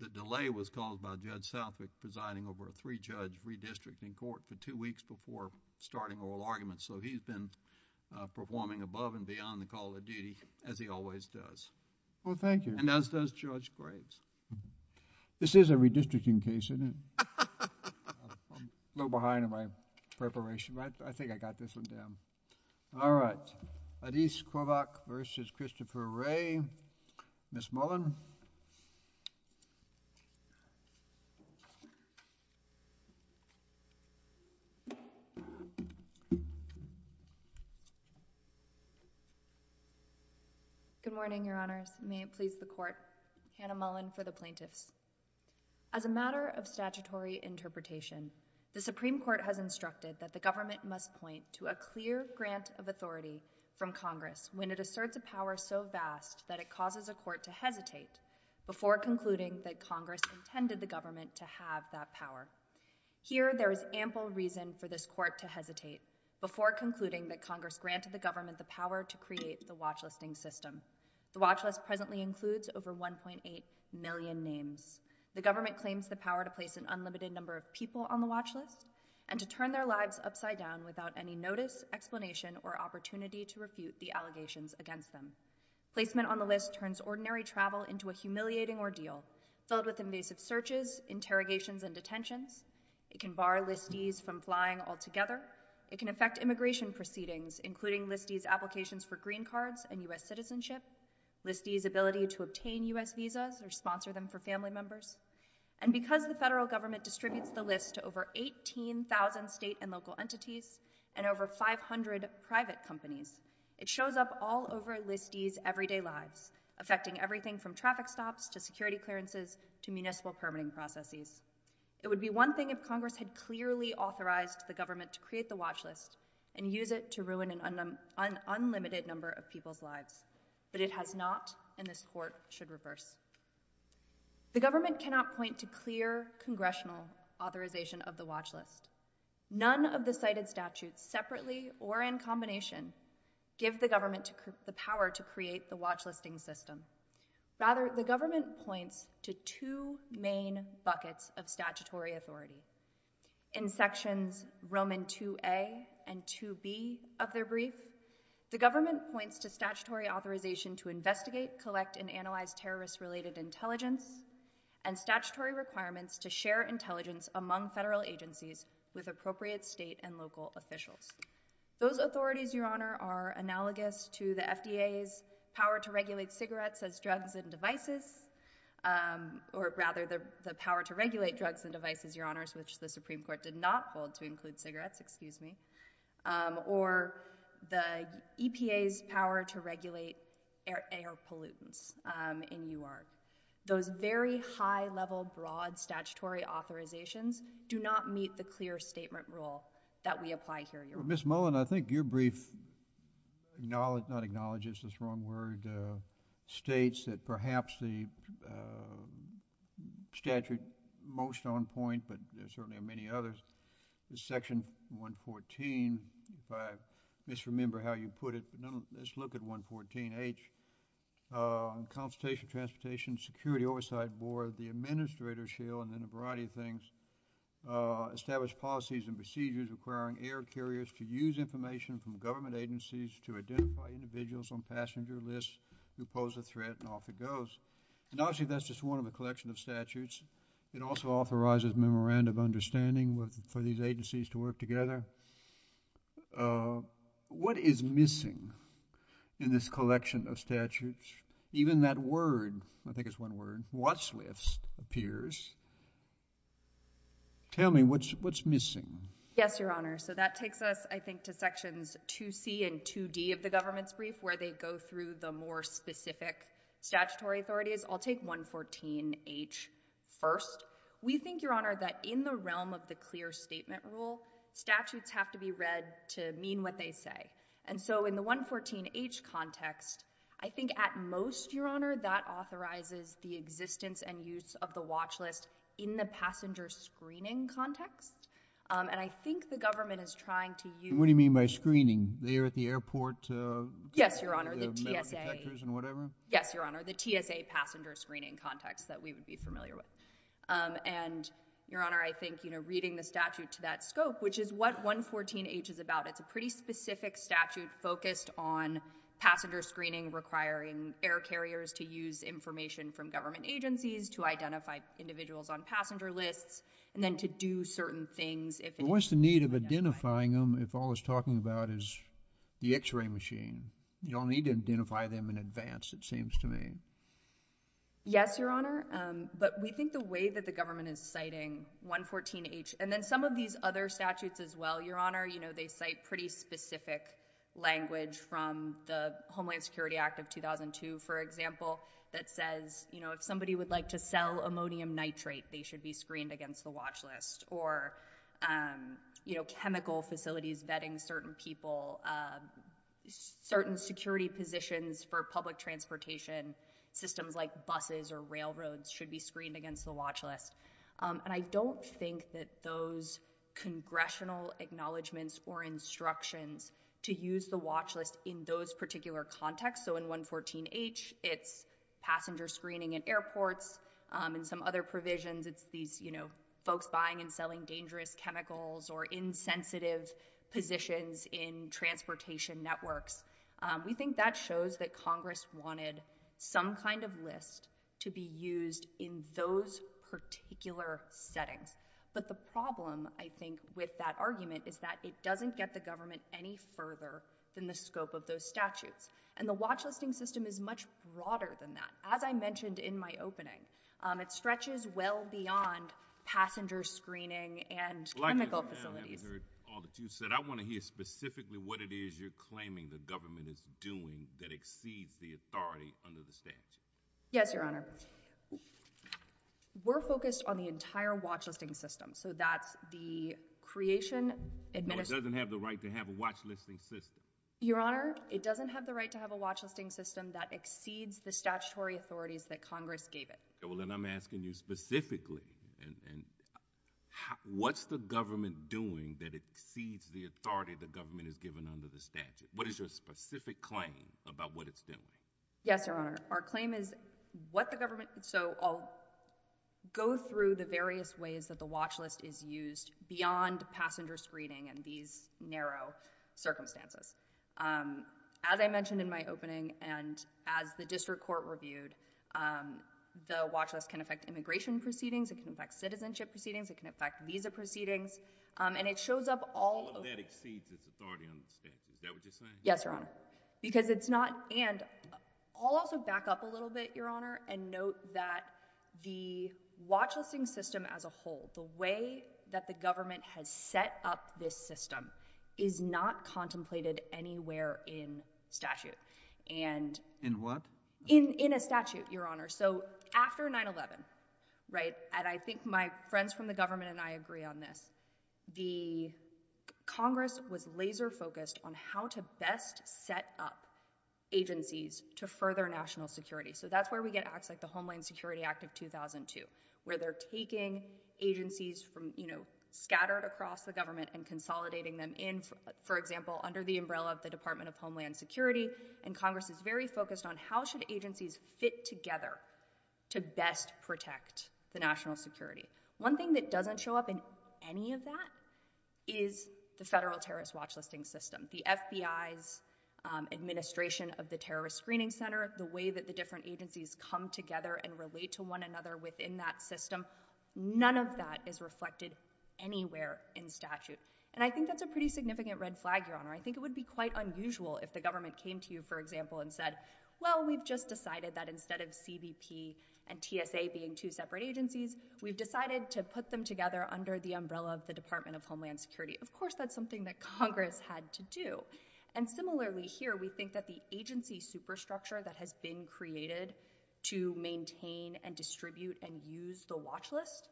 The delay was caused by Judge Southwick presiding over a three-judge redistricting court for two weeks before starting oral arguments, so he's been performing above and beyond the call of duty, as he always does. Well, thank you. And as does Judge Graves. This is a redistricting case, isn't it? I'm a little behind in my preparation, but I think I got this one down. All right. Addis Kovac v. Christopher Wray, Ms. Mullen. Good morning, Your Honors. May it please the Court, Hannah Mullen for the Plaintiffs. As a matter of statutory interpretation, the Supreme Court has instructed that the government must point to a clear grant of authority from Congress when it asserts a power so vast that it causes a court to hesitate before concluding that Congress intended the government to have that power. Here there is ample reason for this court to hesitate before concluding that Congress granted the government the power to create the watchlisting system. The watchlist presently includes over 1.8 million names. The government claims the power to place an unlimited number of people on the watchlist and to turn their lives upside down without any notice, explanation, or opportunity to refute the allegations against them. Placement on the list turns ordinary travel into a humiliating ordeal filled with invasive searches, interrogations, and detentions. It can bar listees from flying altogether. It can affect immigration proceedings, including listees' applications for green cards and U.S. citizenship, listees' ability to obtain U.S. visas or sponsor them for family members. And because the federal government distributes the list to over 18,000 state and local entities and over 500 private companies, it shows up all over listees' everyday lives, affecting everything from traffic stops to security clearances to municipal permitting processes. It would be one thing if Congress had clearly authorized the government to create the watchlist and use it to ruin an unlimited number of people's lives, but it has not and this court should reverse. The government cannot point to clear congressional authorization of the watchlist. None of the cited statutes, separately or in combination, give the government the power to create the watchlisting system. Rather, the government points to two main buckets of statutory authority. In sections Roman 2a and 2b of their brief, the government points to statutory authorization to investigate, collect, and analyze terrorist-related intelligence and statutory requirements to share intelligence among federal agencies with appropriate state and local officials. Those authorities, Your Honor, are analogous to the FDA's power to regulate cigarettes as drugs and devices, or rather the power to regulate drugs and devices, Your Honors, which the Supreme Court did not hold to include cigarettes, excuse me, or the EPA's power to regulate air pollutants in U.R. Those very high-level, broad statutory authorizations do not meet the clear statement rule that we apply here, Your Honor. Ms. Mullen, I think your brief acknowledges, not acknowledges, that's the wrong word, states that perhaps the statute most on point, but there certainly are many others, is section 114, if I misremember how you put it, but let's look at 114H, Consultation Transportation Security Oversight Board, the Administrator's Shield, and then a variety of things, establish policies and procedures requiring air carriers to use information from government agencies to identify individuals on passenger lists who pose a threat, and off it goes. And obviously, that's just one of a collection of statutes. It also authorizes memorandum of understanding for these agencies to work together. What is missing in this collection of statutes? Even that word, I think it's one word, watch list, appears. Tell me, what's missing? Yes, Your Honor. So that takes us, I think, to sections 2C and 2D of the government's brief, where they go through the more specific statutory authorities. I'll take 114H first. We think, Your Honor, that in the realm of the clear statement rule, statutes have to be read to mean what they say. And so in the 114H context, I think at most, Your Honor, that authorizes the existence and use of the watch list in the passenger screening context. And I think the government is trying to use— What do you mean by screening? They are at the airport— Yes, Your Honor, the TSA— The medical detectors and whatever? Yes, Your Honor, the TSA passenger screening context that we would be familiar with. And, Your Honor, I think reading the statute to that scope, which is what 114H is about, it's a pretty specific statute focused on passenger screening requiring air carriers to use information from government agencies to identify individuals on passenger lists and then to do certain things if— What's the need of identifying them if all it's talking about is the x-ray machine? You don't need to identify them in advance, it seems to me. Yes, Your Honor, but we think the way that the government is citing 114H— And then some of these other statutes as well, Your Honor, you know, they cite pretty specific language from the Homeland Security Act of 2002, for example, that says, you know, if somebody would like to sell ammonium nitrate, they should be screened against the watch list. Or, you know, chemical facilities vetting certain people, certain security positions for public transportation systems like buses or railroads should be screened against the watch list. And I don't think that those congressional acknowledgments or instructions to use the watch list in those particular contexts. So in 114H, it's passenger screening at airports. In some other provisions, it's these, you know, folks buying and selling dangerous chemicals or insensitive positions in transportation networks. We think that shows that Congress wanted some kind of list to be used in those particular settings. But the problem, I think, with that argument is that it doesn't get the government any further than the scope of those statutes. And the watch listing system is much broader than that. As I mentioned in my opening, it stretches well beyond passenger screening and chemical facilities. I haven't heard all that you said. I want to hear specifically what it is you're claiming the government is doing that exceeds the authority under the statute. Yes, Your Honor. We're focused on the entire watch listing system. So that's the creation, administration. Well, it doesn't have the right to have a watch listing system. Your Honor, it doesn't have the right to have a watch listing system that exceeds the statutory authorities that Congress gave it. Well, then I'm asking you specifically, what's the government doing that exceeds the authority the government has given under the statute? What is your specific claim about what it's doing? Yes, Your Honor. Our claim is what the government— so I'll go through the various ways that the watch list is used beyond passenger screening in these narrow circumstances. As I mentioned in my opening and as the district court reviewed, the watch list can affect immigration proceedings. It can affect citizenship proceedings. It can affect visa proceedings. And it shows up all— All of that exceeds its authority under the statute. Is that what you're saying? Yes, Your Honor. Because it's not—and I'll also back up a little bit, Your Honor, and note that the watch listing system as a whole, the way that the government has set up this system is not contemplated anywhere in statute. And— In what? In a statute, Your Honor. So after 9-11, right, and I think my friends from the government and I agree on this, the Congress was laser-focused on how to best set up agencies to further national security. So that's where we get acts like the Homeland Security Act of 2002, where they're taking agencies from, you know, scattered across the government and consolidating them in, for example, under the umbrella of the Department of Homeland Security, and Congress is very focused on how should agencies fit together to best protect the national security. One thing that doesn't show up in any of that is the federal terrorist watch listing system, the FBI's administration of the terrorist screening center, the way that the different agencies come together and relate to one another within that system. None of that is reflected anywhere in statute. And I think that's a pretty significant red flag, Your Honor. I think it would be quite unusual if the government came to you, for example, and said, well, we've just decided that instead of CBP and TSA being two separate agencies, we've decided to put them together under the umbrella of the Department of Homeland Security. Of course, that's something that Congress had to do. And similarly here, we think that the agency superstructure that has been created to maintain and distribute and use the watch list,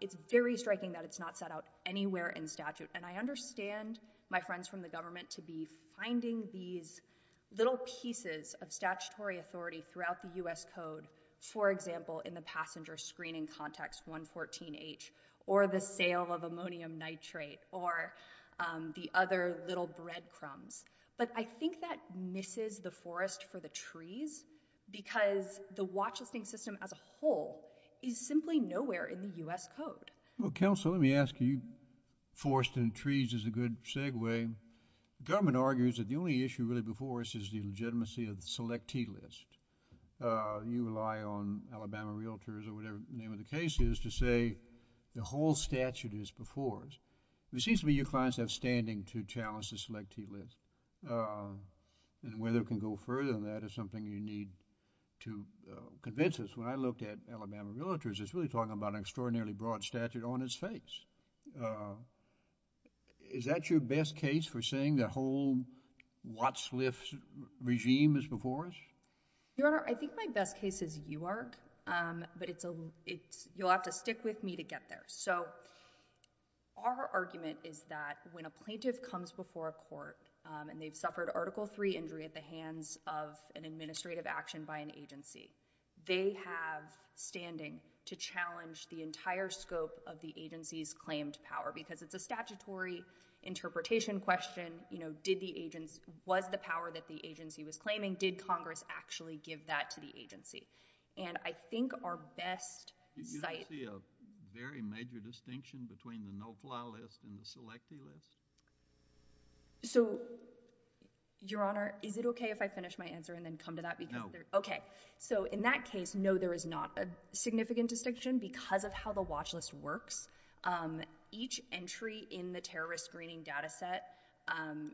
it's very striking that it's not set out anywhere in statute. And I understand my friends from the government to be finding these little pieces of statutory authority throughout the U.S. Code, for example, in the passenger screening context, 114H, or the sale of ammonium nitrate, or the other little breadcrumbs. But I think that misses the forest for the trees, because the watch listing system as a whole is simply nowhere in the U.S. Code. Well, counsel, let me ask you, forest and trees is a good segue. The government argues that the only issue really before us is the legitimacy of the selectee list. You rely on Alabama realtors or whatever the name of the case is to say the whole statute is before us. It seems to me your clients have standing to challenge the selectee list. And whether it can go further than that is something you need to convince us. When I looked at Alabama realtors, it's really talking about an extraordinarily broad statute on its face. Is that your best case for saying the whole Watsliff regime is before us? Your Honor, I think my best case is UARC, but you'll have to stick with me to get there. So our argument is that when a plaintiff comes before a court and they've suffered Article III injury at the hands of an administrative action by an agency, they have standing to challenge the entire scope of the agency's claimed power because it's a statutory interpretation question. You know, was the power that the agency was claiming, did Congress actually give that to the agency? And I think our best site— Do you see a very major distinction between the no-fly list and the selectee list? So, Your Honor, is it okay if I finish my answer and then come to that? No. Okay, so in that case, no, there is not a significant distinction because of how the watch list works. Each entry in the terrorist screening data set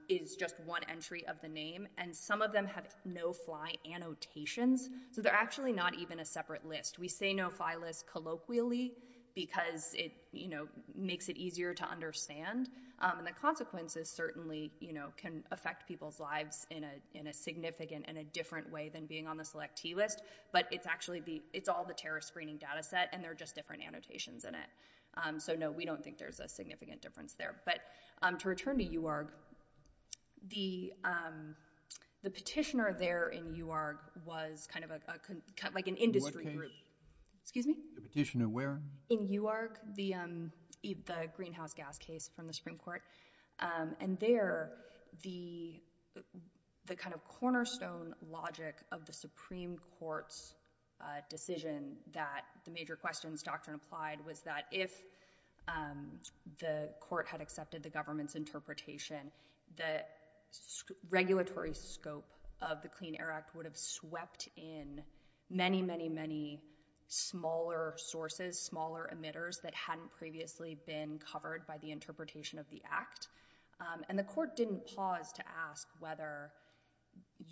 is just one entry of the name, and some of them have no-fly annotations, so they're actually not even a separate list. We say no-fly list colloquially because it makes it easier to understand, and the consequences certainly can affect people's lives in a significant and a different way than being on the selectee list, but it's all the terrorist screening data set, and there are just different annotations in it. So no, we don't think there's a significant difference there. But to return to UARG, the petitioner there in UARG was kind of like an industry group. Excuse me? The petitioner where? In UARG, the greenhouse gas case from the Supreme Court, and there the kind of cornerstone logic of the Supreme Court's decision that the major questions doctrine applied was that if the court had accepted the government's interpretation, the regulatory scope of the Clean Air Act would have swept in many, many, many smaller sources, smaller emitters that hadn't previously been covered by the interpretation of the act, and the court didn't pause to ask whether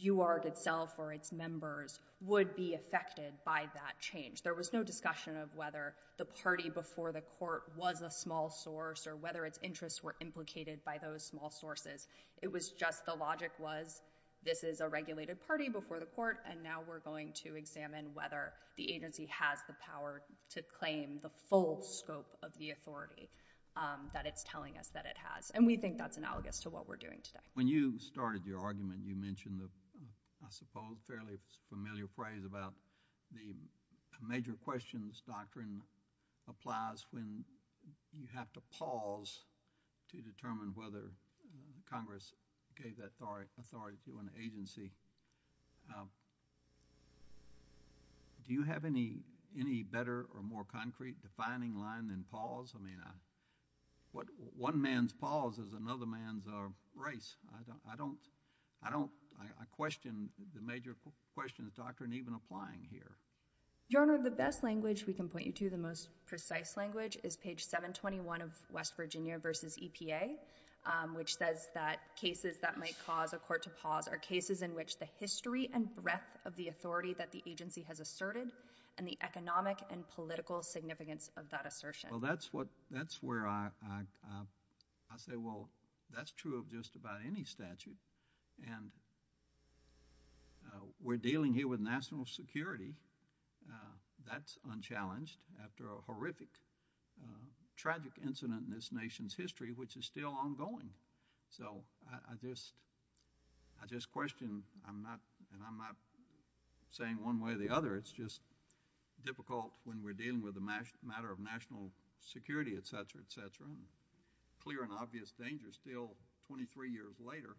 UARG itself or its members would be affected by that change. There was no discussion of whether the party before the court was a small source or whether its interests were implicated by those small sources. It was just the logic was this is a regulated party before the court, and now we're going to examine whether the agency has the power to claim the full scope of the authority that it's telling us that it has, and we think that's analogous to what we're doing today. When you started your argument, you mentioned the, I suppose, fairly familiar phrase about the major questions doctrine applies when you have to pause to determine whether Congress gave that authority to an agency. Do you have any better or more concrete defining line than pause? I mean, one man's pause is another man's race. I question the major questions doctrine even applying here. Your Honor, the best language we can point you to, the most precise language, is page 721 of West Virginia versus EPA, which says that cases that might cause a court to pause are cases in which the history and breadth of the authority that the agency has asserted and the economic and political significance of that assertion. Well, that's where I say, well, that's true of just about any statute, and we're dealing here with national security. That's unchallenged after a horrific, tragic incident in this nation's history, which is still ongoing. So I just question, and I'm not saying one way or the other, it's just difficult when we're dealing with a matter of national security, et cetera, et cetera, and clear and obvious danger still 23 years later,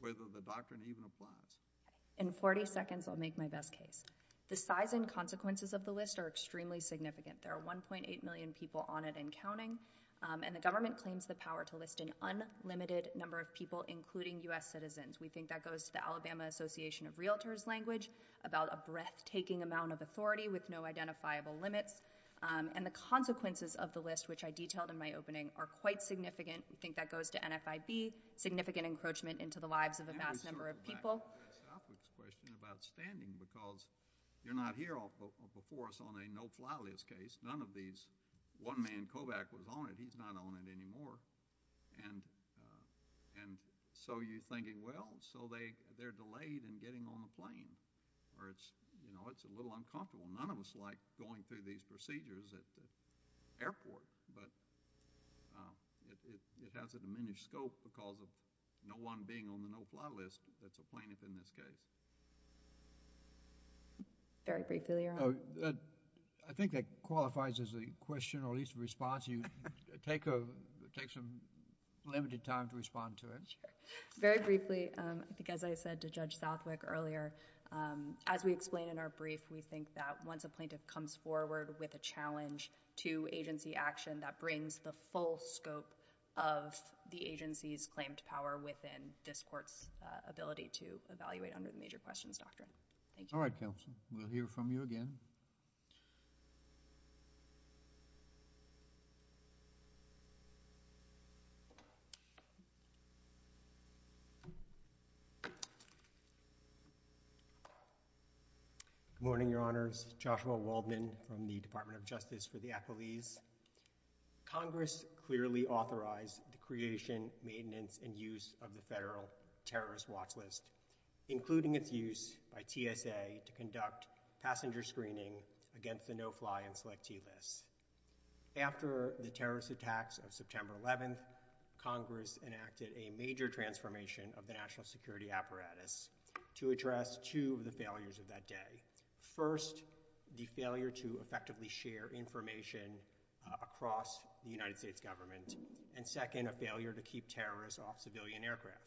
whether the doctrine even applies. In 40 seconds, I'll make my best case. The size and consequences of the list are extremely significant. There are 1.8 million people on it and counting, and the government claims the power to list an unlimited number of people, including U.S. citizens. We think that goes to the Alabama Association of Realtors' language about a breathtaking amount of authority with no identifiable limits, and the consequences of the list, which I detailed in my opening, are quite significant. We think that goes to NFIB, significant encroachment into the lives of a vast number of people. Now we sort of go back to Brad Southwick's question about standing, because you're not here before us on a no-fly list case. None of these, one man, Kovach, was on it. He's not on it anymore. And so you're thinking, well, so they're delayed in getting on the plane, or it's a little uncomfortable. None of us like going through these procedures at the airport, but it has a diminished scope because of no one being on the no-fly list that's a plaintiff in this case. Very briefly, Your Honor. I think that qualifies as a question or at least a response. You take some limited time to respond to it. Sure. Very briefly, I think as I said to Judge Southwick earlier, as we explain in our brief, we think that once a plaintiff comes forward with a challenge to agency action, that brings the full scope of the agency's claim to power within this Court's ability to evaluate under the Major Questions Doctrine. Thank you. All right, counsel. We'll hear from you again. Thank you. Good morning, Your Honors. Joshua Waldman from the Department of Justice for the Applebees. Congress clearly authorized the creation, maintenance, and use of the Federal Terrorist Watch List, including its use by TSA to conduct passenger screening against the no-fly and selectee lists. After the terrorist attacks of September 11th, Congress enacted a major transformation of the national security apparatus to address two of the failures of that day. First, the failure to effectively share information across the United States government, and second, a failure to keep terrorists off civilian aircraft.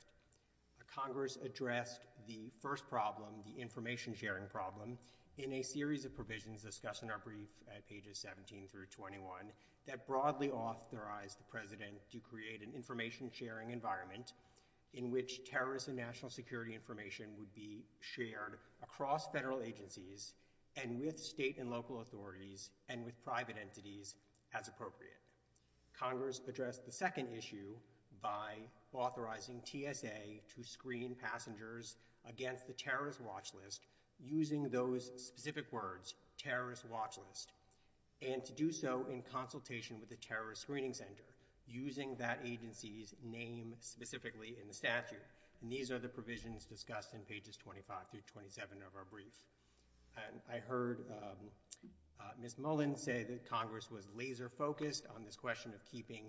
Congress addressed the first problem, the information-sharing problem, in a series of provisions discussed in our brief at pages 17 through 21 that broadly authorized the President to create an information-sharing environment in which terrorist and national security information would be shared across federal agencies and with state and local authorities and with private entities as appropriate. Congress addressed the second issue by authorizing TSA to screen passengers against the terrorist watch list using those specific words, terrorist watch list, and to do so in consultation with the terrorist screening center using that agency's name specifically in the statute. These are the provisions discussed in pages 25 through 27 of our brief. I heard Ms. Mullen say that Congress was laser-focused on this question of keeping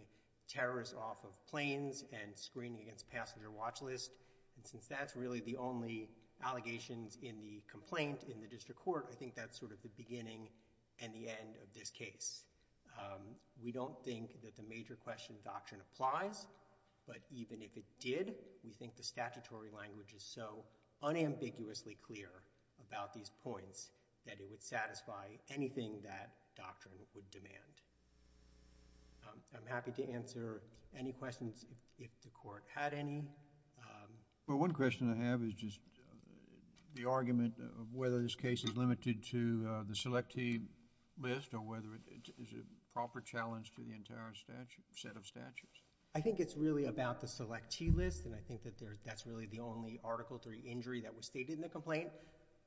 terrorists off of planes and screening against passenger watch lists. And since that's really the only allegations in the complaint in the district court, I think that's sort of the beginning and the end of this case. We don't think that the major question doctrine applies, but even if it did, we think the statutory language is so unambiguously clear about these points that it would satisfy anything that doctrine would demand. I'm happy to answer any questions if the court had any. One question I have is just the argument of whether this case is limited to the selectee list or whether it is a proper challenge to the entire set of statutes. I think it's really about the selectee list, and I think that's really the only Article III injury that was stated in the complaint.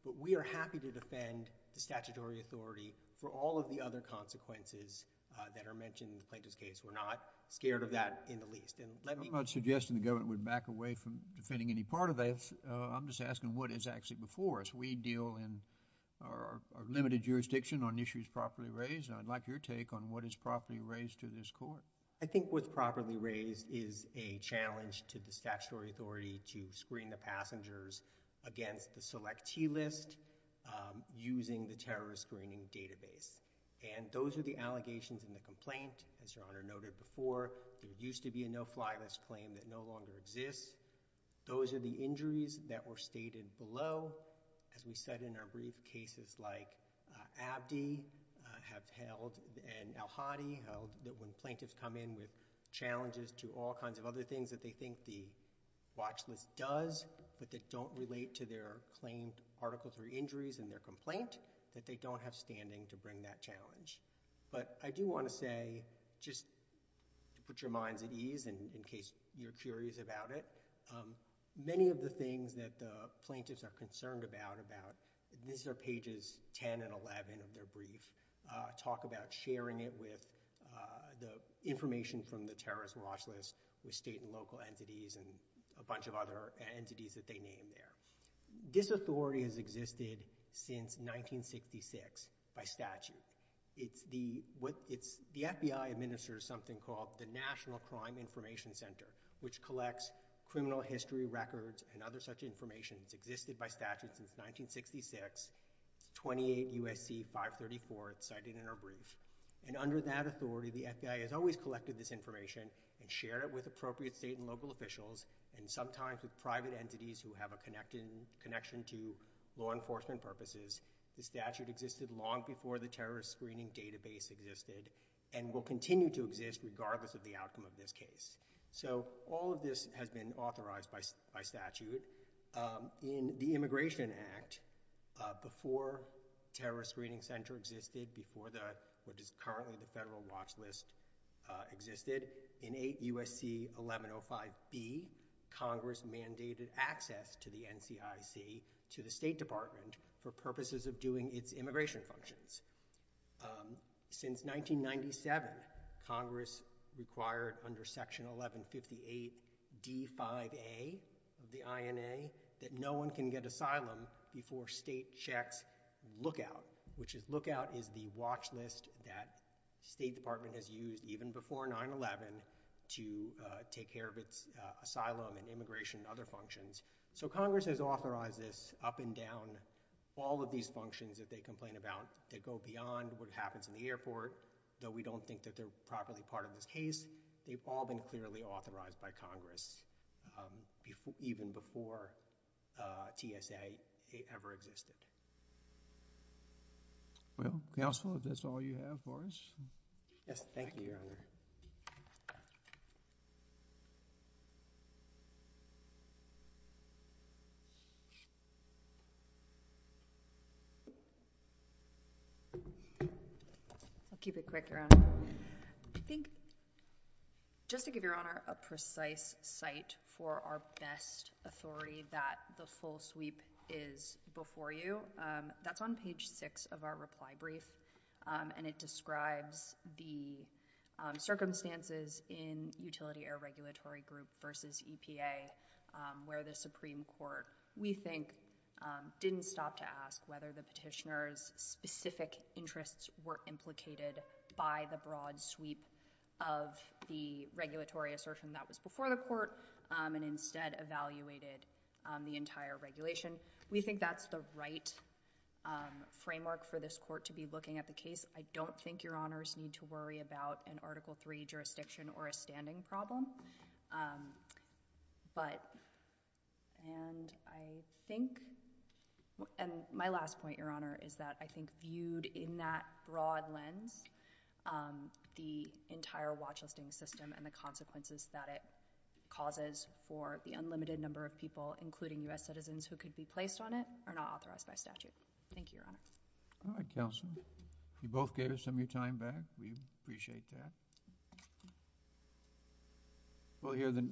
But we are happy to defend the statutory authority for all of the other consequences that are mentioned in the plaintiff's case. We're not scared of that in the least. I'm not suggesting the government would back away from defending any part of this. I'm just asking what is actually before us. We deal in our limited jurisdiction on issues properly raised, and I'd like your take on what is properly raised to this court. I think what's properly raised is a challenge to the statutory authority to screen the passengers against the selectee list using the terrorist screening database. And those are the allegations in the complaint. As Your Honor noted before, there used to be a no-fly list claim that no longer exists. Those are the injuries that were stated below. As we said in our brief, cases like Abdi have held and al-Hadi held that when plaintiffs come in with challenges to all kinds of other things that they think the watch list does, but that don't relate to their claimed Article III injuries in their complaint, that they don't have standing to bring that challenge. But I do want to say, just to put your minds at ease, and in case you're curious about it, many of the things that the plaintiffs are concerned about, these are pages 10 and 11 of their brief, talk about sharing it with the information from the terrorist watch list with state and local entities and a bunch of other entities that they name there. This authority has existed since 1966 by statute. The FBI administers something called the National Crime Information Center, which collects criminal history records and other such information. It's existed by statute since 1966. It's 28 USC 534. It's cited in our brief. And under that authority, the FBI has always collected this information and shared it with appropriate state and local officials, and sometimes with private entities who have a connection to law enforcement purposes. The statute existed long before the terrorist screening database existed and will continue to exist regardless of the outcome of this case. So all of this has been authorized by statute. In the Immigration Act, before the terrorist screening center existed, before what is currently the federal watch list existed, in 8 USC 1105B, Congress mandated access to the NCIC to the State Department for purposes of doing its immigration functions. Since 1997, Congress required under Section 1158 D5A of the INA that no one can get asylum before state checks lookout, which is lookout is the watch list that State Department has used even before 9-11 to take care of its asylum and immigration and other functions. So Congress has authorized this up and down all of these functions that they complain about that go beyond what happens in the airport, though we don't think that they're properly part of this case. They've all been clearly authorized by Congress even before TSA ever existed. Well, counsel, if that's all you have for us. Yes, thank you, Your Honor. I think just to give Your Honor a precise site for our best authority that the full sweep is before you, that's on page 6 of our reply brief, and it describes the circumstances in utility air regulatory group versus EPA where the Supreme Court, we think, didn't stop to ask whether the petitioner's specific interests were implicated by the broad sweep of the regulatory assertion that was before the court and instead evaluated the entire regulation. We think that's the right framework for this court to be looking at the case. I don't think Your Honors need to worry about an Article III jurisdiction or a standing problem, but, and I think, and my last point, Your Honor, is that I think viewed in that broad lens, the entire watch listing system and the consequences that it causes for the unlimited number of people, including U.S. citizens who could be placed on it, are not authorized by statute. Thank you, Your Honor. All right, counsel. You both gave us some of your time back. We appreciate that.